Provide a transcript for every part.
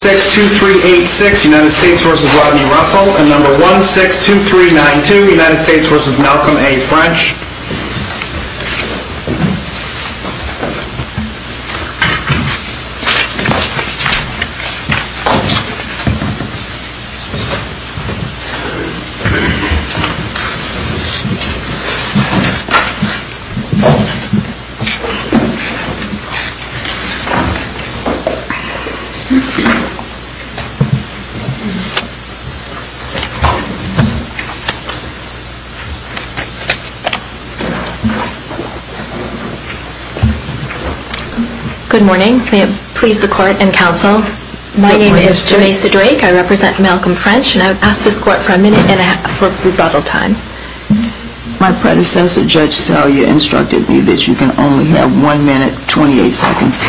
62386 United States v. Rodney Russell and number 162392 United States v. Malcolm A. French Good morning. May it please the court and counsel. My name is Jamesa Drake. I represent Malcolm French and I would ask this court for a minute and a half for rebuttal time. My predecessor, Judge Salyer, instructed me that you can only have one minute, twenty-eight seconds.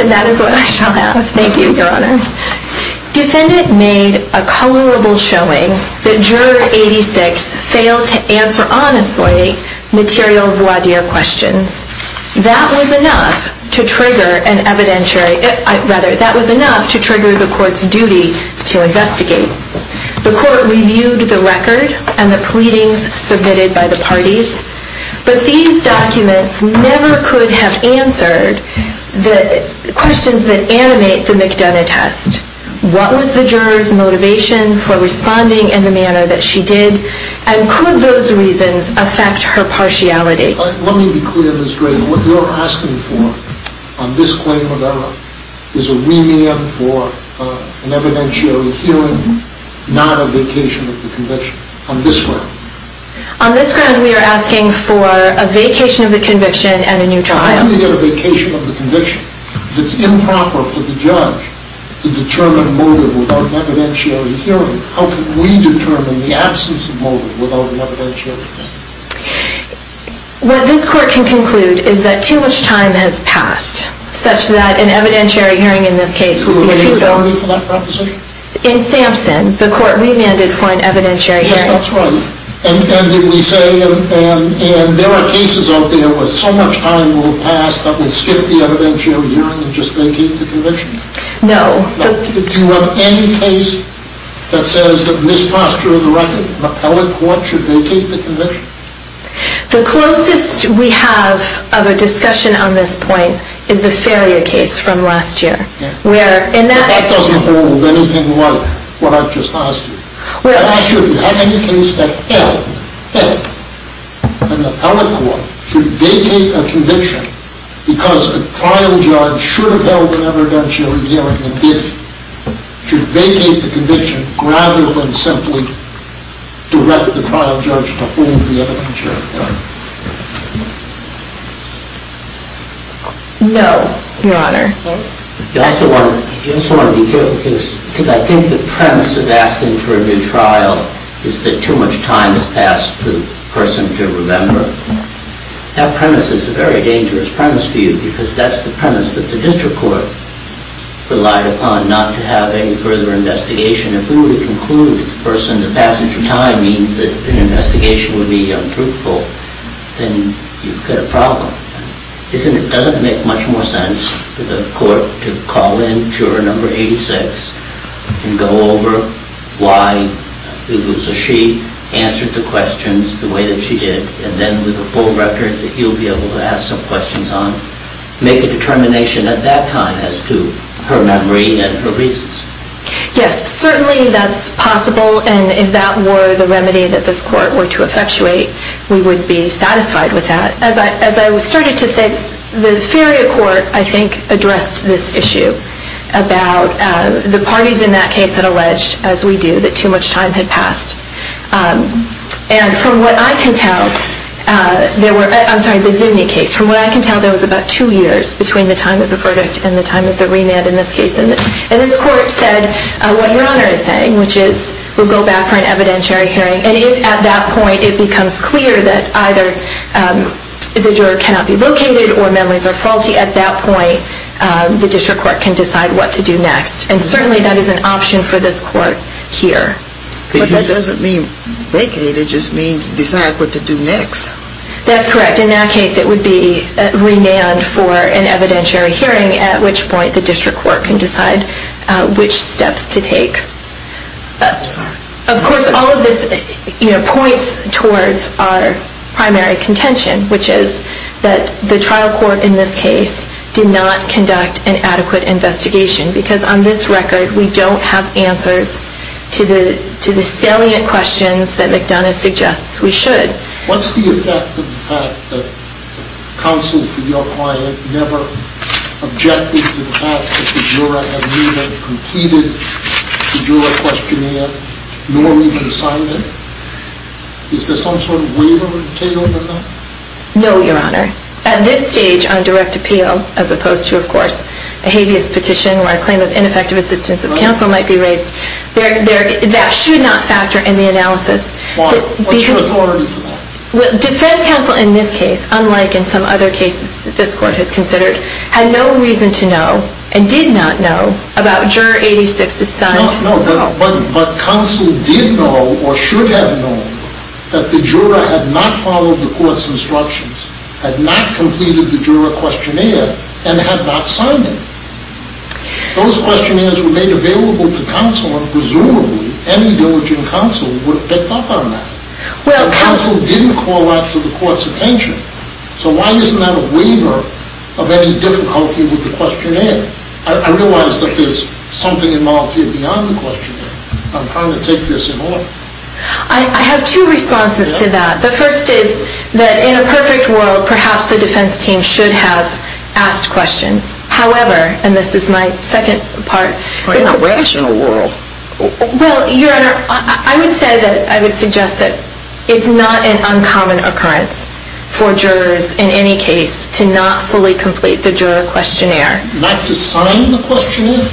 And that is what I shall have. Thank you, Your Honor. Defendant made a colorable showing that Juror 86 failed to answer honestly material voir dire questions. That was enough to trigger an evidentiary, rather, that was enough to trigger the court's duty to investigate. The court reviewed the record and the pleadings submitted by the parties. But these documents never could have answered the questions that animate the McDonough test. What was the juror's motivation for responding in the manner that she did? And could those reasons affect her partiality? Let me be clear, Ms. Drake. What we're asking for on this claim of error is a remand for an evidentiary hearing, not a vacation of the conviction. On this ground. On this ground, we are asking for a vacation of the conviction and a new trial. How do we get a vacation of the conviction? If it's improper for the judge to determine motive without an evidentiary hearing, how can we determine the absence of motive without an evidentiary hearing? What this court can conclude is that too much time has passed, such that an evidentiary hearing in this case would be futile. In Sampson, the court remanded for an evidentiary hearing. Yes, that's right. And did we say, and there are cases out there where so much time will have passed that we'll skip the evidentiary hearing and just vacate the conviction? No. Do you have any case that says that in this posture of the record, an appellate court should vacate the conviction? The closest we have of a discussion on this point is the failure case from last year. That doesn't hold anything like what I've just asked you. I asked you if you have any case that held that an appellate court should vacate a conviction because a trial judge should have held an evidentiary hearing and should vacate the conviction rather than simply direct the trial judge to hold the evidentiary hearing. No, Your Honor. You also want to be careful here because I think the premise of asking for a new trial is that too much time has passed for the person to remember. That premise is a very dangerous premise for you because that's the premise that the district court relied upon, not to have any further investigation. If we were to conclude that the person's passage of time means that an investigation would be untruthful, then you've got a problem. Doesn't it make much more sense for the court to call in juror number 86 and go over why it was that she answered the questions the way that she did and then with a full record that he'll be able to ask some questions on, make a determination at that time as to her memory and her reasons Yes, certainly that's possible and if that were the remedy that this court were to effectuate, we would be satisfied with that. As I was starting to say, the Feria court, I think, addressed this issue about the parties in that case that alleged, as we do, that too much time had passed. And from what I can tell, there were, I'm sorry, the Zuni case, from what I can tell, there was about two years between the time of the verdict and the time of the remand in this case. And this court said what Your Honor is saying, which is we'll go back for an evidentiary hearing. And if at that point it becomes clear that either the juror cannot be located or memories are faulty, at that point the district court can decide what to do next. And certainly that is an option for this court here. But that doesn't mean vacate. It just means decide what to do next. That's correct. In that case, it would be remand for an evidentiary hearing, at which point the district court can decide which steps to take. Of course, all of this points towards our primary contention, which is that the trial court in this case did not conduct an adequate investigation. Because on this record, we don't have answers to the salient questions that McDonough suggests we should. What's the effect of the fact that counsel for your client never objected to the fact that the juror had neither completed the juror questionnaire nor even signed it? Is there some sort of waiver entailed in that? No, Your Honor. At this stage, on direct appeal, as opposed to, of course, a habeas petition where a claim of ineffective assistance of counsel might be raised, that should not factor in the analysis. Why? What's your authority for that? Well, defense counsel in this case, unlike in some other cases that this court has considered, had no reason to know and did not know about Juror 86's signing. No, but counsel did know or should have known that the juror had not followed the court's instructions, had not completed the juror questionnaire, and had not signed it. Those would have picked up on that. Counsel didn't call out to the court's attention. So why isn't that a waiver of any difficulty with the questionnaire? I realize that there's something involved here beyond the questionnaire. I'm trying to take this in order. I have two responses to that. The first is that in a perfect world, perhaps the defense team should have asked questions. However, and this is my second part. In a rational world? Well, Your Honor, I would say that, I would suggest that it's not an uncommon occurrence for jurors in any case to not fully complete the juror questionnaire. Not to sign the questionnaire?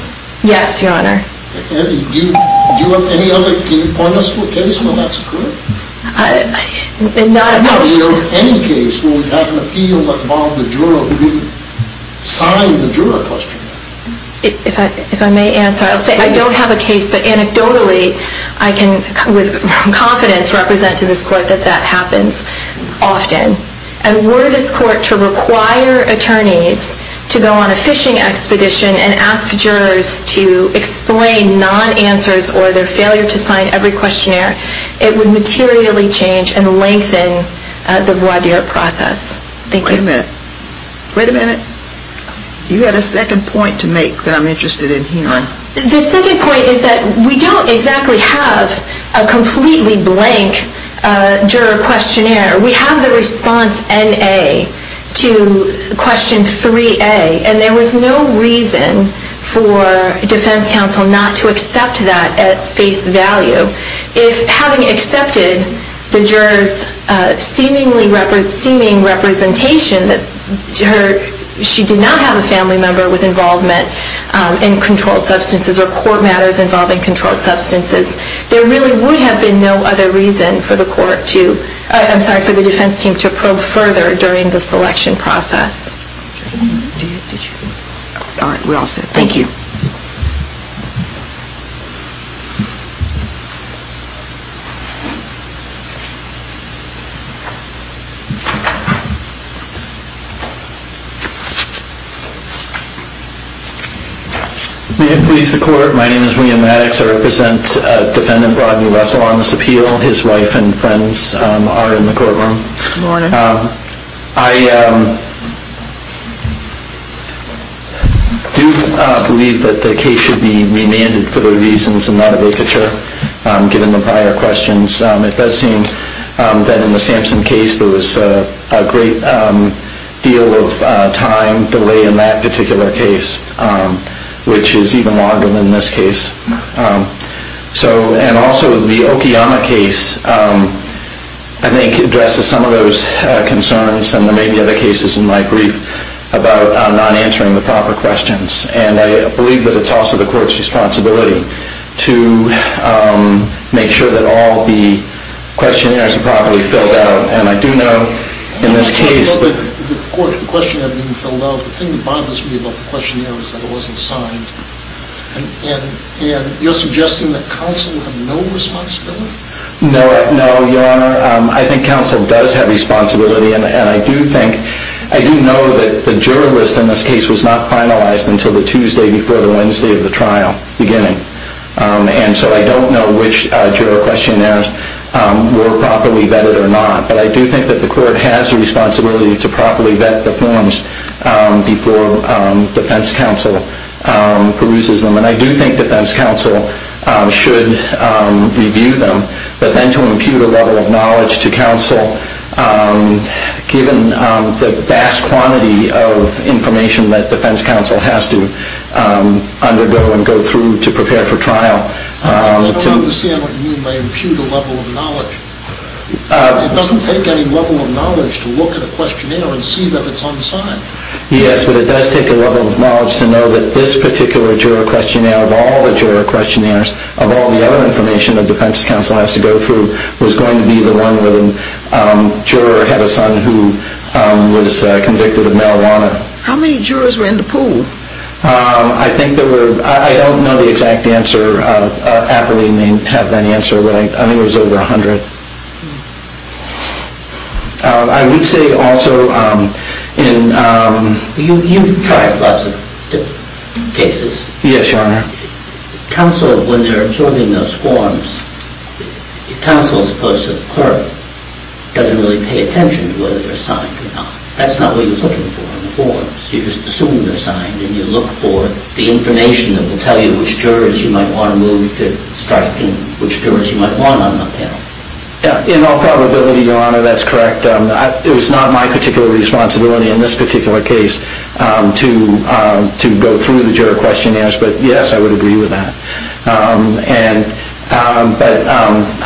Yes, Your Honor. Do you have any other case where that's true? Not at most. Do you have any case where we have an appeal that Bob the juror didn't sign the juror questionnaire? If I may answer, I don't have a case. But anecdotally, I can with confidence represent to this court that that happens often. And were this court to require attorneys to go on a fishing expedition and ask jurors to explain non-answers or their failure to sign every questionnaire, it would materially change and lengthen the voir dire process. Thank you. Wait a minute. Wait a minute. You had a second point to make that I'm interested in hearing. The second point is that we don't exactly have a completely blank juror questionnaire. We have the response NA to question 3A. And there was no reason for defense counsel not to accept that at face value. If having accepted the juror's seeming representation that she did not have a family member with involvement in controlled substances or court matters involving controlled substances, there really would have been no other reason for the defense team to probe further during the selection process. All right. We're all set. Thank you. May it please the court, my name is William Maddox. I represent defendant Rodney Russell on this appeal. His wife and friends are in the courtroom. Good morning. Good morning. I do believe that the case should be remanded for the reasons in that abacature given the prior questions. It does seem that in the Sampson case there was a great deal of time delay in that particular case, which is even longer than this case. And also the Okiyama case, I think, addresses some of those concerns and there may be other cases in my brief about not answering the proper questions. And I believe that it's also the court's responsibility to make sure that all the questionnaires are properly filled out. And I do know in this case... I'm not talking about the court, the questionnaire being filled out. The thing that bothers me about the questionnaire is that it wasn't signed. And you're suggesting that counsel have no responsibility? No, Your Honor. I think counsel does have responsibility. And I do think... I do know that the juror list in this case was not finalized until the Tuesday before the Wednesday of the trial beginning. And so I don't know which juror questionnaires were properly vetted or not. But I do think that the court has a responsibility to properly vet the forms before defense counsel peruses them. And I do think defense counsel should review them. But then to impute a level of knowledge to counsel, given the vast quantity of information that defense counsel has to undergo and go through to prepare for trial... I don't understand what you mean by impute a level of knowledge. It doesn't take any level of knowledge to look at a questionnaire and see that it's unsigned. Yes, but it does take a level of knowledge to know that this particular juror questionnaire of all the juror questionnaires, of all the other information that defense counsel has to go through, was going to be the one where the juror had a son who was convicted of marijuana. How many jurors were in the pool? I think there were... I don't know the exact answer. Apperly may have that answer. But I think there was over a hundred. I would say also in... You've tried lots of different cases. Yes, Your Honor. Counsel, when they're absorbing those forms, counsel's post to the court doesn't really pay attention to whether they're signed or not. That's not what you're looking for in the forms. You're just assuming they're signed and you look for the information that will tell you which jurors you might want to move to start thinking which jurors you might want on the panel. In all probability, Your Honor, that's correct. It was not my particular responsibility in this particular case to go through the juror questionnaires, but yes, I would agree with that. But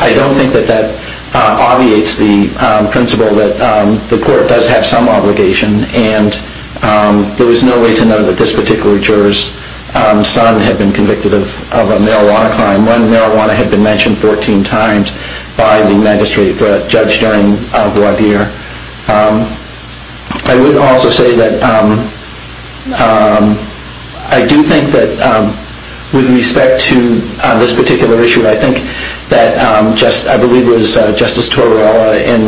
I don't think that that obviates the principle that the court does have some of the authority to do that. I would also say that I do think that with respect to this particular issue, I think that I believe it was Justice Tortorella in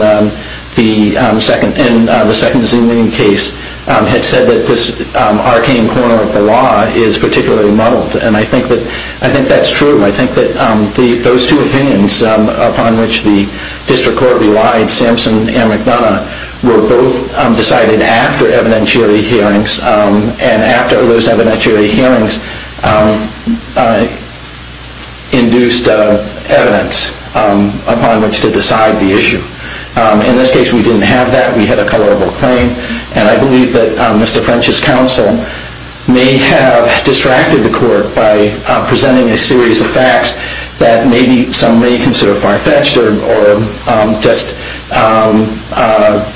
the second case had said that this arcane corner of the law is particularly muddled, and I think that's true. I think that those two opinions upon which the district court relied, Sampson and McDonough, were both decided after evidentiary hearings, and after those evidentiary hearings induced evidence upon which to decide the issue. In this case, we didn't have that. We had a colorable claim, and I believe that Mr. French's counsel may have distracted the court by presenting a series of facts that maybe some may consider far-fetched or just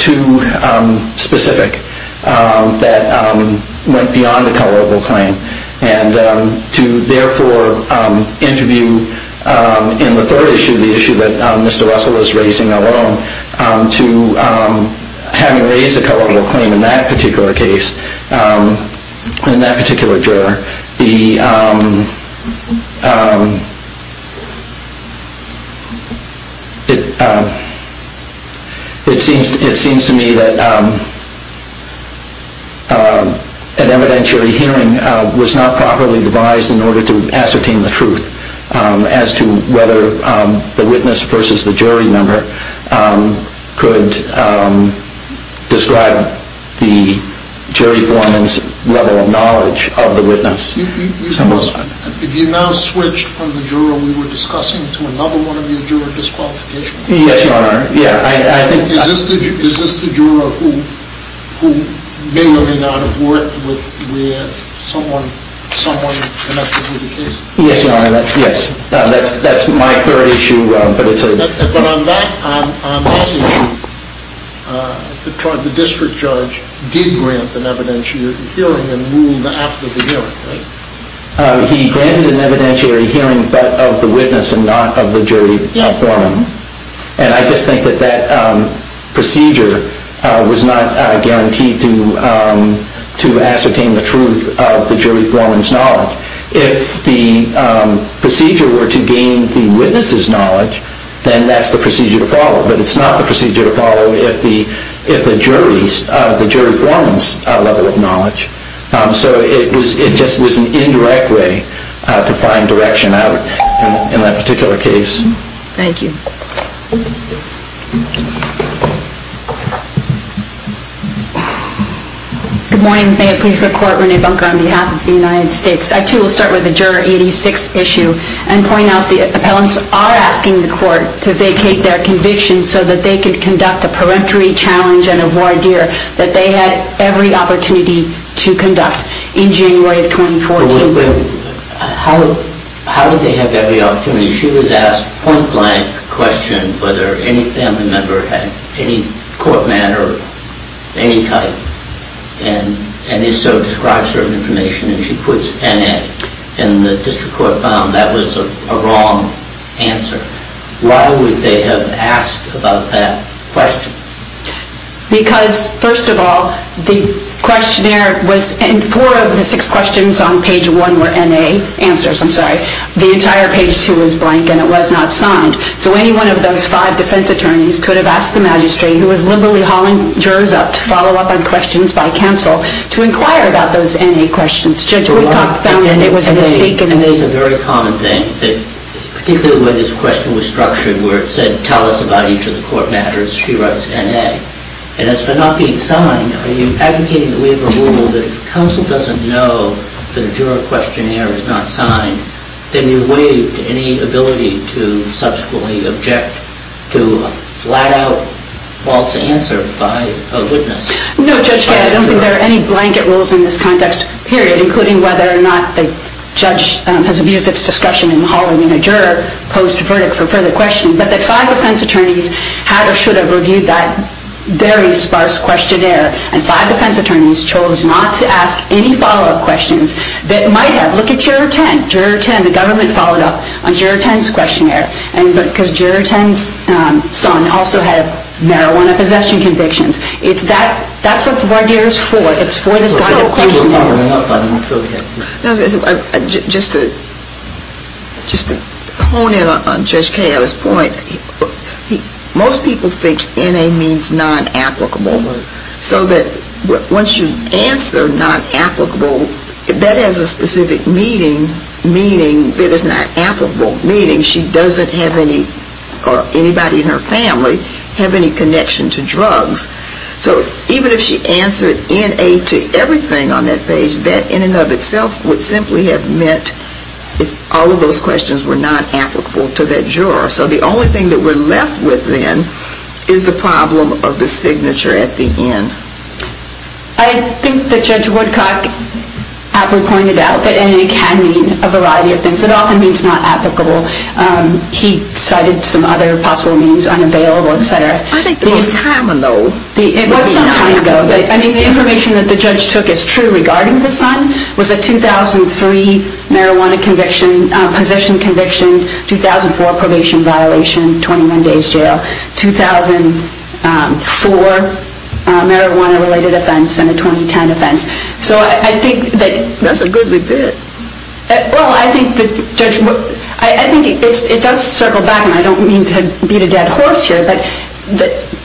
too specific that went beyond the colorable claim, and to therefore interview in the third issue, the issue that is the colorable claim in that particular case, in that particular juror, it seems to me that an evidentiary hearing was not properly devised in order to ascertain the truth as to whether the witness versus the jury member could describe the jury foreman's level of knowledge of the witness. If you now switch from the juror we were discussing to another one of your juror disqualifications? Yes, Your Honor. Is this the juror who may or may not have worked with someone connected to the case? Yes, Your Honor. Yes. That's my third issue. But on that issue, the district judge did grant an evidentiary hearing and ruled after the hearing, right? He granted an evidentiary hearing but of the witness and not of the jury foreman. And I just think that that procedure was not guaranteed to ascertain the truth of the jury foreman's level of knowledge. If the procedure were to gain the witness's knowledge, then that's the procedure to follow. But it's not the procedure to follow if the jury foreman's level of knowledge. So it just was an indirect way to find direction out in that particular case. Thank you. Good morning. May it please the court, Rene Bunker on behalf of the United States. I too will start with the juror 86 issue and point out the appellants are asking the court to vacate their conviction so that they could conduct a peremptory challenge and a voir dire that they had every opportunity to conduct in January of 2014. How did they have every opportunity? She was asked a point blank question whether any family member had any court matter of any type. And if so, describe certain information and she puts N.A. And the district court found that was a wrong answer. Why would they have asked about that question? Because first of all, the questionnaire was and four of the six questions on page one were N.A. answers. I'm sorry. The entire page two was blank and it was not signed. So any one of those five defense attorneys could have asked the magistrate who was liberally hauling jurors up to follow up on questions by counsel to inquire about those N.A. questions. Judge Woodcock found that it was a mistake. N.A. is a very common thing. Particularly where this question was structured where it said tell us about each of the court matters, she writes N.A. And as for not being signed, are you advocating that we have a rule that if counsel doesn't know that a juror questionnaire is not signed, then you waive any ability to subsequently object to a flat-out false answer by a witness? No, Judge, I don't think there are any blanket rules in this context, period, including whether or not the judge has abused its discretion in hauling a juror post-verdict for further questioning, but that five defense attorneys had or should have reviewed that very sparse questionnaire and five defense attorneys chose not to ask any follow-up questions that might have. Look at Juror 10. Juror 10, the government followed up on Juror 10's questionnaire because Juror 10's son also had marijuana possession convictions. That's what the voir dire is for. It's for the side of the questionnaire. Just to hone in on Judge Kaye at this point, most people think N.A. means non-applicable. So that once you answer non-applicable, that has a specific meaning that is not applicable, meaning she doesn't have any or anybody in her family have any connection to drugs. So even if she answered N.A. to everything on that page, that in and of itself would simply have meant all of those questions were not applicable to that juror. So the only thing that we're left with then is the problem of the signature at the end. I think that Judge Woodcock aptly pointed out that N.A. can mean a variety of things. It often means not applicable. He cited some other possible means, unavailable, et cetera. I think it was time ago. It was some time ago. I think the information that the judge took as true regarding the son was a 2003 marijuana conviction, possession conviction, 2004 probation violation, 21 days jail, 2004 marijuana-related offense, and a 2010 offense. So I think that... That's a goodly bit. Well, I think that Judge Wood... I think it does circle back, and I don't mean to beat a dead horse here, but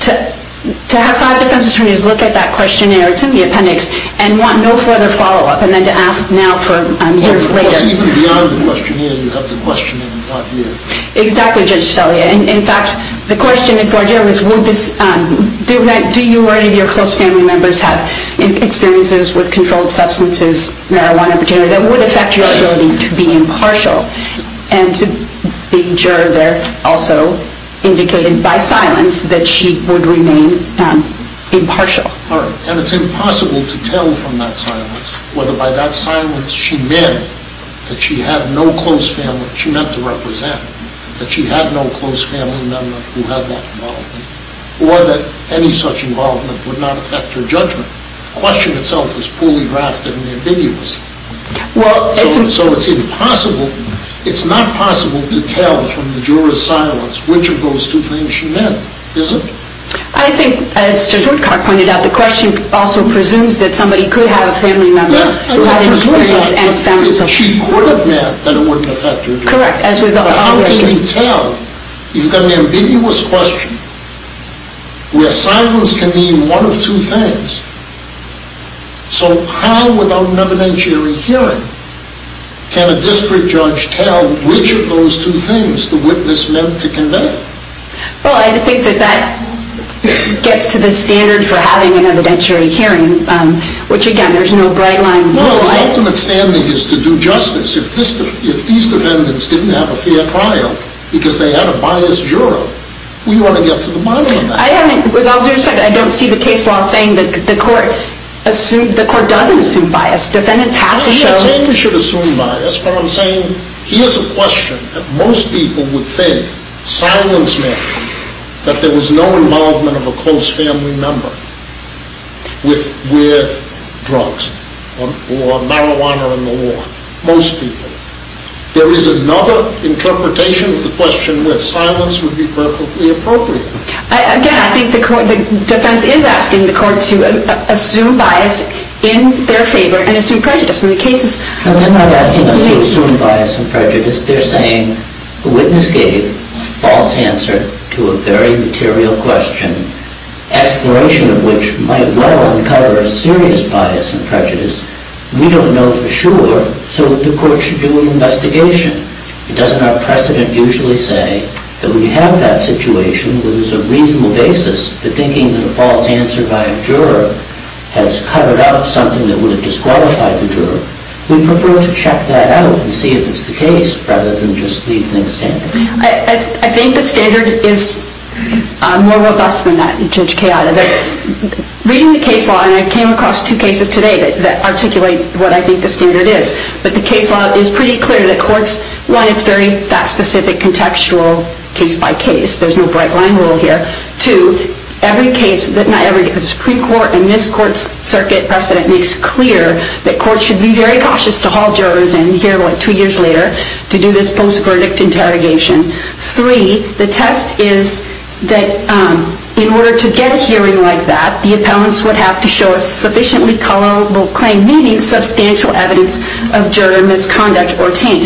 to have five defense attorneys look at that questionnaire, it's in the appendix, and want no further follow-up, and then to ask now for years later. Well, of course, even beyond the questionnaire, you've got the question and the thought here. Exactly, Judge Stellier. In fact, the question at court here was, do you or any of your close family members have experiences with controlled substances, marijuana, et cetera, that would affect your ability to be impartial? And the juror there also indicated by silence that she would remain impartial. And it's impossible to tell from that silence whether by that silence she meant that she had no close family, she meant to represent, that she had no close family member who had that involvement, or that any such involvement would not affect her judgment. The question itself is poorly drafted and ambiguous. So it's impossible, it's not possible to tell from the juror's silence which of those two things she meant, is it? I think, as Judge Woodcock pointed out, the question also presumes that somebody could have a family member who had experience and found themselves... She could have meant that it wouldn't affect her judgment. Correct. How can you tell? You've got an ambiguous question where silence can mean one of two things. So how, without an evidentiary hearing, can a district judge tell which of those two things the witness meant to convey? Well, I think that that gets to the standard for having an evidentiary hearing, which, again, there's no bright line. Well, the ultimate standing is to do justice. If these defendants didn't have a fair trial because they had a biased juror, we want to get to the bottom of that. With all due respect, I don't see the case law saying that the court doesn't assume bias. Defendants have to show... I don't think they should assume bias, but I'm saying here's a question that most people would think silence meant that there was no involvement of a close family member with drugs or marijuana in the law. Most people. There is another interpretation of the question where silence would be perfectly appropriate. Again, I think the defense is asking the court to assume bias in their favor and assume prejudice. In the cases... They're not asking us to assume bias and prejudice. They're saying the witness gave a false answer to a very material question, exploration of which might well uncover a serious bias and prejudice. We don't know for sure, so the court should do an investigation. It doesn't have precedent usually say that we have that situation where there's a reasonable basis for thinking that a false answer by a juror has covered up something that would have disqualified the juror. We prefer to check that out and see if it's the case rather than just leave things standing. I think the standard is more robust than that, Judge Kayada. Reading the case law, and I came across two cases today that articulate what I think the standard is, but the case law is pretty clear that courts... One, it's very that specific contextual case by case. There's no bright line rule here. Two, every case... Not every, because the Supreme Court and this court's circuit precedent makes clear that courts should be very cautious to haul jurors in here two years later to do this post-verdict interrogation. Three, the test is that in order to get a hearing like that, the appellants would have to show a sufficiently colorable claim, meaning substantial evidence of juror misconduct or taint.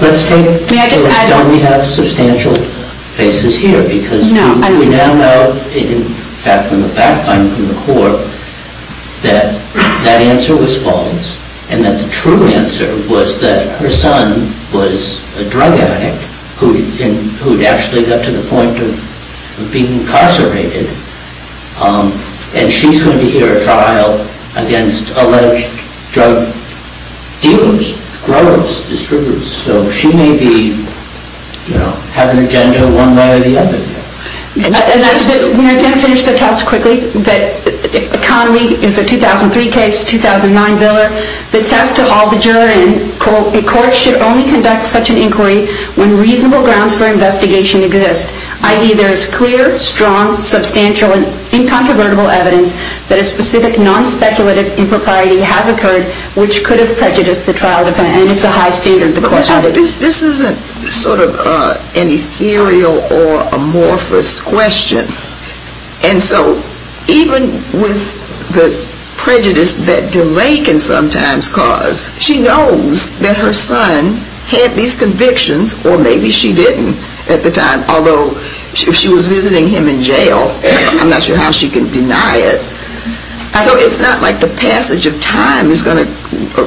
Let's take... May I just add... Don't we have substantial cases here? No, I don't think so. Because we now know, in fact, from the background from the court, that that answer was false and that the true answer was that her son was a drug addict who had actually got to the point of being incarcerated and she's going to hear a trial against alleged drug dealers, growers, distributors. So she may be, you know, have an agenda one way or the other here. May I finish the test quickly? Conley is a 2003 case, 2009 biller, that says to haul the juror in, quote, a court should only conduct such an inquiry when reasonable grounds for investigation exist, i.e. there is clear, strong, substantial, and incontrovertible evidence that a specific non-speculative impropriety has occurred, which could have prejudiced the trial defendant. And it's a high standard the court added. This isn't sort of an ethereal or amorphous question. And so even with the prejudice that delay can sometimes cause, she knows that her son had these convictions, or maybe she didn't at the time, although if she was visiting him in jail, I'm not sure how she can deny it. So it's not like the passage of time is going to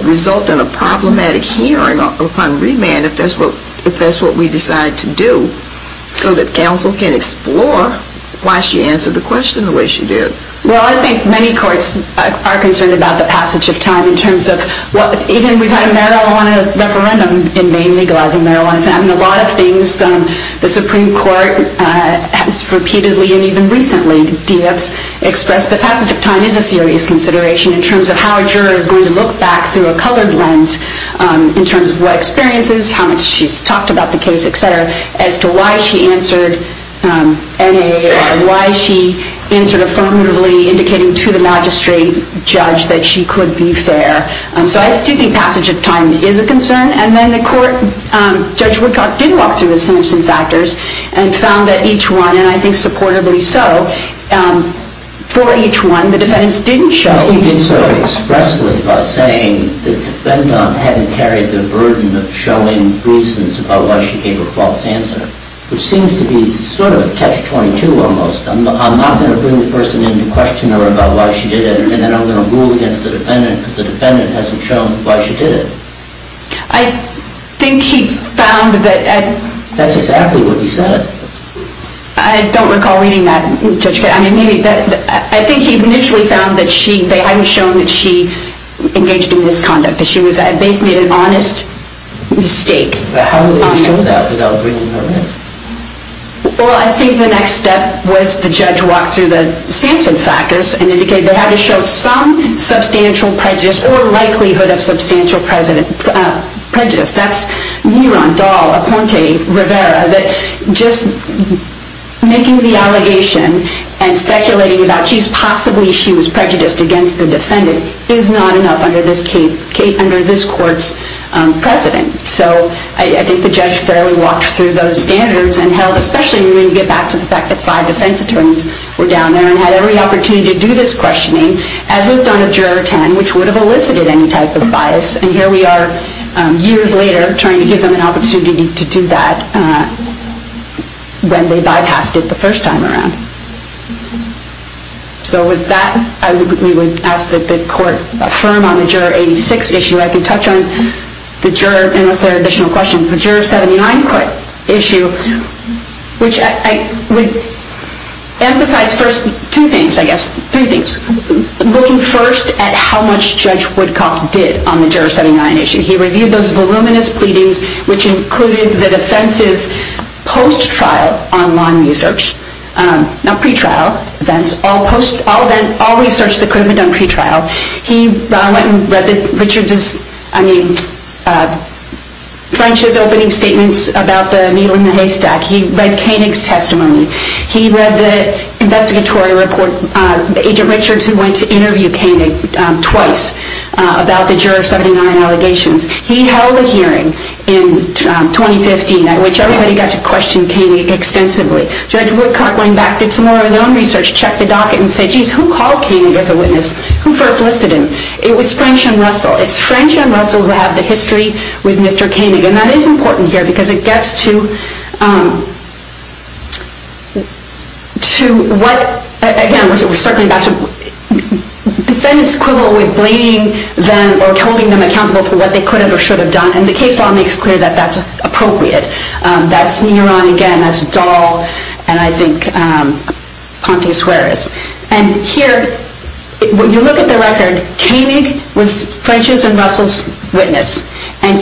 result in a problematic hearing upon remand if that's what we decide to do, so that counsel can explore why she answered the question the way she did. Well, I think many courts are concerned about the passage of time in terms of even we've had a marijuana referendum in Maine legalizing marijuana. And a lot of things the Supreme Court has repeatedly, and even recently, expressed that passage of time is a serious consideration in terms of how a juror is going to look back through a colored lens in terms of what experiences, how much she's talked about the case, et cetera, as to why she answered N.A. or why she answered affirmatively, indicating to the magistrate judge that she could be fair. So I do think passage of time is a concern. And then the court, Judge Woodcock did walk through the Simpson factors and found that each one, and I think supportably so, for each one the defendants didn't show he did so. He did so expressly by saying the defendant hadn't carried the burden of showing reasons about why she gave a false answer, which seems to be sort of a catch-22 almost. I'm not going to bring the person in to question her about why she did it, and then I'm going to rule against the defendant because the defendant hasn't shown why she did it. I think he found that... That's exactly what he said. I don't recall reading that, Judge. I think he initially found that they hadn't shown that she engaged in misconduct, that she basically made an honest mistake. How would they have shown that without bringing her in? Well, I think the next step was the judge walked through the Simpson factors and indicated they had to show some substantial prejudice or likelihood of substantial prejudice. That's Neron, Dahl, Aponte, Rivera, that just making the allegation and speculating about possibly she was prejudiced against the defendant is not enough under this court's precedent. So I think the judge fairly walked through those standards and held, especially when you get back to the fact that five defense attorneys were down there and had every opportunity to do this questioning, as was done at Juror 10, which would have elicited any type of bias, and here we are years later trying to give them an opportunity to do that when they bypassed it the first time around. So with that, I would ask that the court affirm on the Juror 86 issue. I can touch on the Juror, unless there are additional questions, the Juror 79 court issue, which I would emphasize first two things, I guess, three things. Looking first at how much Judge Woodcock did on the Juror 79 issue. He reviewed those voluminous pleadings, which included the defense's post-trial online research, not pre-trial, all research that could have been done pre-trial. He went and read Richard's, I mean, French's opening statements about the needle in the haystack. He read Koenig's testimony. He read the investigatory report, Agent Richards who went to interview Koenig twice about the Juror 79 allegations. He held a hearing in 2015 at which everybody got to question Koenig extensively. Judge Woodcock went back, did some more of his own research, checked the docket and said, geez, who called Koenig as a witness? Who first listed him? It was French and Russell. It's French and Russell who have the history with Mr. Koenig, and that is important here because it gets to what, again, we're circling back to defendants' quibble with blaming them or holding them accountable for what they could have or should have done, and the case law makes clear that that's appropriate. That's Neron again, that's Dahl, and I think Ponte Suarez. And here, when you look at the record, Koenig was French's and Russell's witness, and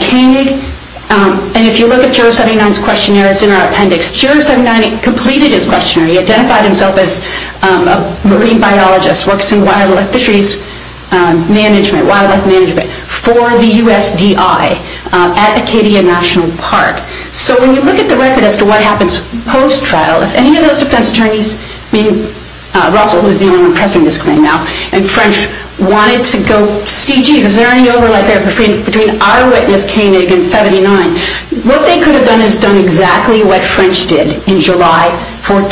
if you look at Juror 79's questionnaire, it's in our appendix, Juror 79 completed his questionnaire. He identified himself as a marine biologist, works in wildlife fisheries management, wildlife management, for the USDI at Acadia National Park. So when you look at the record as to what happens post-trial, if any of those defense attorneys, I mean Russell is the only one pressing this claim now, and French wanted to go see, jeez, is there any overlap there between our witness Koenig and 79? What they could have done is done exactly what French did in July of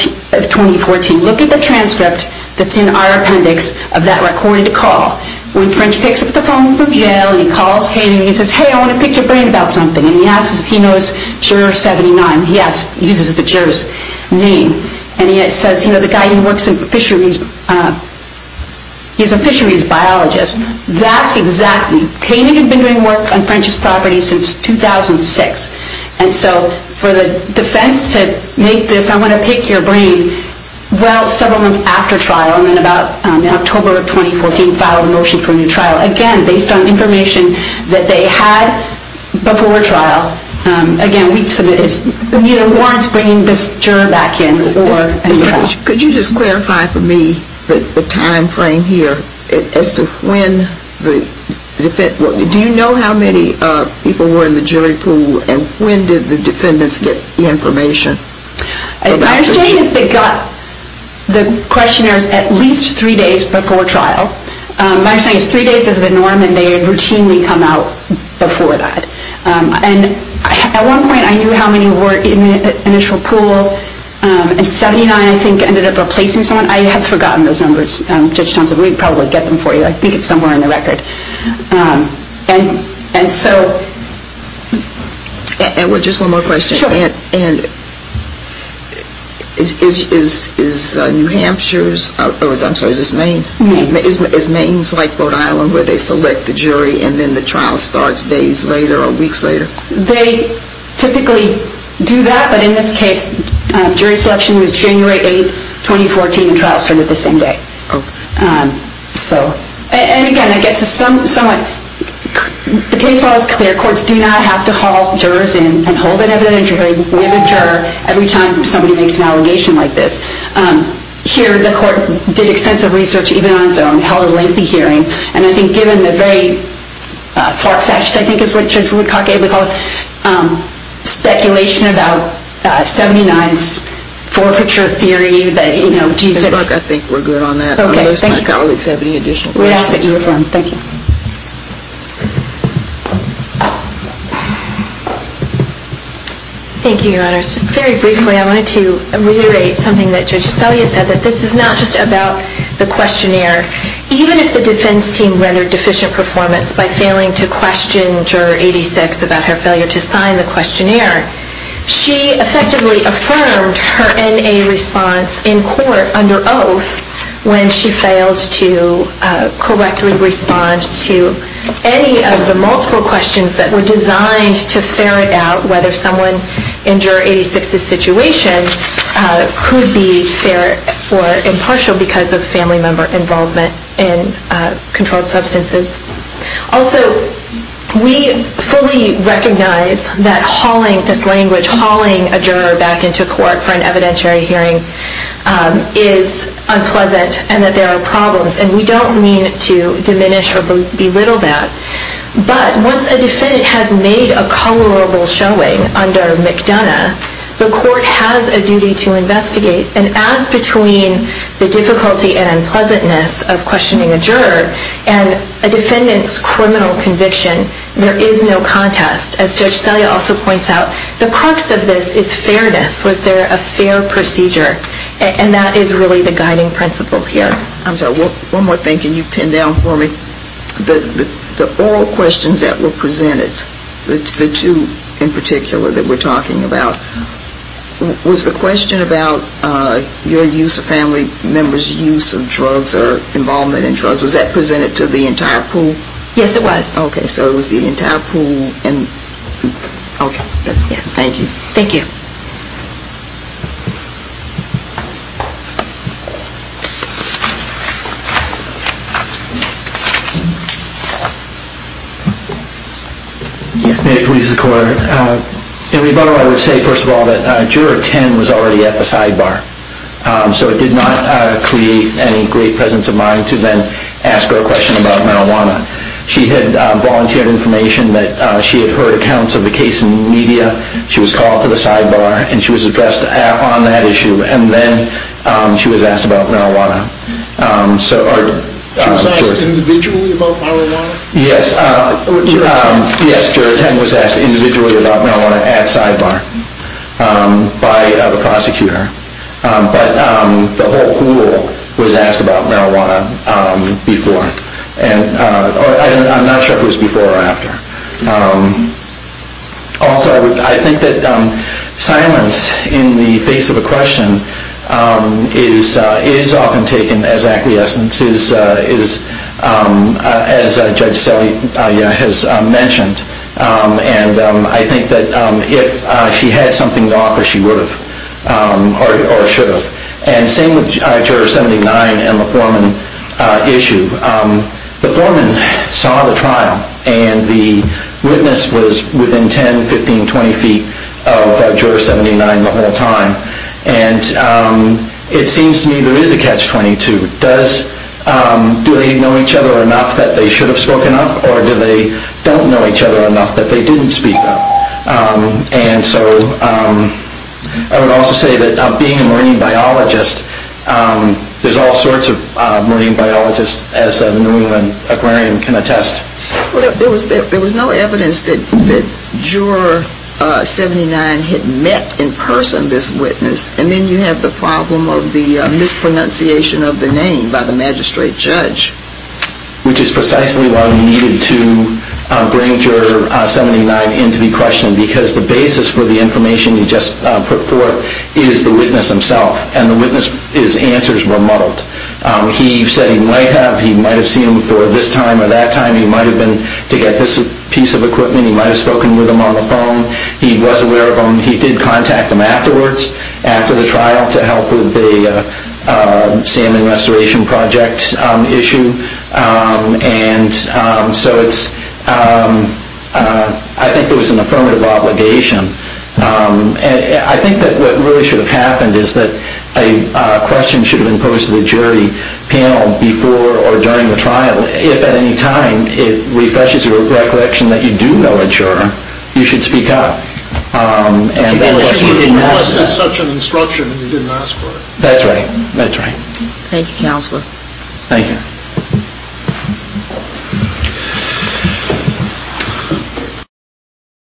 2014. Look at the transcript that's in our appendix of that recorded call. When French picks up the phone from jail and he calls Koenig and he says, hey, I want to pick your brain about something, and he asks if he knows Juror 79. He uses the juror's name, and he says, you know, the guy who works in fisheries, he's a fisheries biologist. That's exactly, Koenig had been doing work on French's property since 2006. And so for the defense to make this, I want to pick your brain, well, several months after trial, and then about October of 2014, filed a motion for a new trial. Again, based on information that they had before trial, again, we submit it's, you know, warrants bringing this juror back in. Could you just clarify for me the time frame here as to when the defense, do you know how many people were in the jury pool, and when did the defendants get the information? My understanding is they got the questionnaires at least three days before trial. My understanding is three days is the norm, and they routinely come out before that. And at one point, I knew how many were in the initial pool, and 79, I think, ended up replacing someone. I have forgotten those numbers. Judge Thompson, we'd probably get them for you. I think it's somewhere in the record. And so. And just one more question. Sure. And is New Hampshire's, or I'm sorry, is it Maine? Maine. Is Maine's like Rhode Island where they select the jury, and then the trial starts days later or weeks later? They typically do that, but in this case, jury selection was January 8, 2014, and trial started the same day. Okay. So. And again, I guess it's somewhat, the case law is clear. Courts do not have to haul jurors in and hold an evident jury with a juror every time somebody makes an allegation like this. Here, the court did extensive research, even on its own, held a lengthy hearing, and I think given the very far-fetched, I think is what Judge Woodcock ably called it, speculation about 79's forfeiture theory that, you know, Jesus. Ms. Burke, I think we're good on that. Okay, thank you. Unless my colleagues have any additional questions. We ask that you reform. Thank you. Thank you, Your Honors. Just very briefly, I wanted to reiterate something that Judge Salia said, that this is not just about the questionnaire. Even if the defense team rendered deficient performance by failing to question Juror 86 about her failure to sign the questionnaire, she effectively affirmed her N.A. response in court under oath when she failed to correctly respond to any of the multiple questions that were designed to ferret out whether someone in Juror 86's situation could be ferret for impartial because of family member involvement in controlled substances. Also, we fully recognize that hauling this language, hauling a juror back into court for an evidentiary hearing, is unpleasant and that there are problems, and we don't mean to diminish or belittle that. But once a defendant has made a colorable showing under McDonough, the court has a duty to investigate. And as between the difficulty and unpleasantness of questioning a juror and a defendant's criminal conviction, there is no contest. As Judge Salia also points out, the crux of this is fairness. Was there a fair procedure? And that is really the guiding principle here. I'm sorry. One more thing. Can you pin down for me the oral questions that were presented, the two in particular that we're talking about? Was the question about your use of family members' use of drugs or involvement in drugs, was that presented to the entire pool? Yes, it was. Okay. So it was the entire pool. Okay. Thank you. Thank you. May it please the Court. In rebuttal, I would say, first of all, that Juror 10 was already at the sidebar. So it did not create any great presence of mind to then ask her a question about marijuana. She had volunteered information that she had heard accounts of the case in the media. She was called to the sidebar, and she was addressed on that issue, and then she was asked about marijuana. She was asked individually about marijuana? Yes. Yes, Juror 10 was asked individually about marijuana at sidebar by the prosecutor. But the whole pool was asked about marijuana before. I'm not sure if it was before or after. Also, I think that silence in the face of a question is often taken as acquiescence, as Judge Selle has mentioned. And I think that if she had something to offer, she would have or should have. And same with Juror 79 and the Foreman issue. The Foreman saw the trial, and the witness was within 10, 15, 20 feet of Juror 79 the whole time. And it seems to me there is a catch-22. Do they know each other enough that they should have spoken up, or do they don't know each other enough that they didn't speak up? And so I would also say that being a marine biologist, there's all sorts of marine biologists, as the New England Aquarium can attest. There was no evidence that Juror 79 had met in person this witness, and then you have the problem of the mispronunciation of the name by the magistrate judge. Which is precisely why we needed to bring Juror 79 in to be questioned, because the basis for the information you just put forth is the witness himself. And the witness's answers were muddled. He said he might have. He might have seen him before this time or that time. He might have been to get this piece of equipment. He might have spoken with him on the phone. He was aware of him. He did contact him afterwards, after the trial, to help with the salmon restoration project issue. And so I think there was an affirmative obligation. And I think that what really should have happened is that a question should have been posed to the jury panel before or during the trial, if at any time it refreshes your recollection that you do know a juror. You should speak up. Unless it's such an instruction and you didn't ask for it. That's right. Thank you, Counselor. Thank you.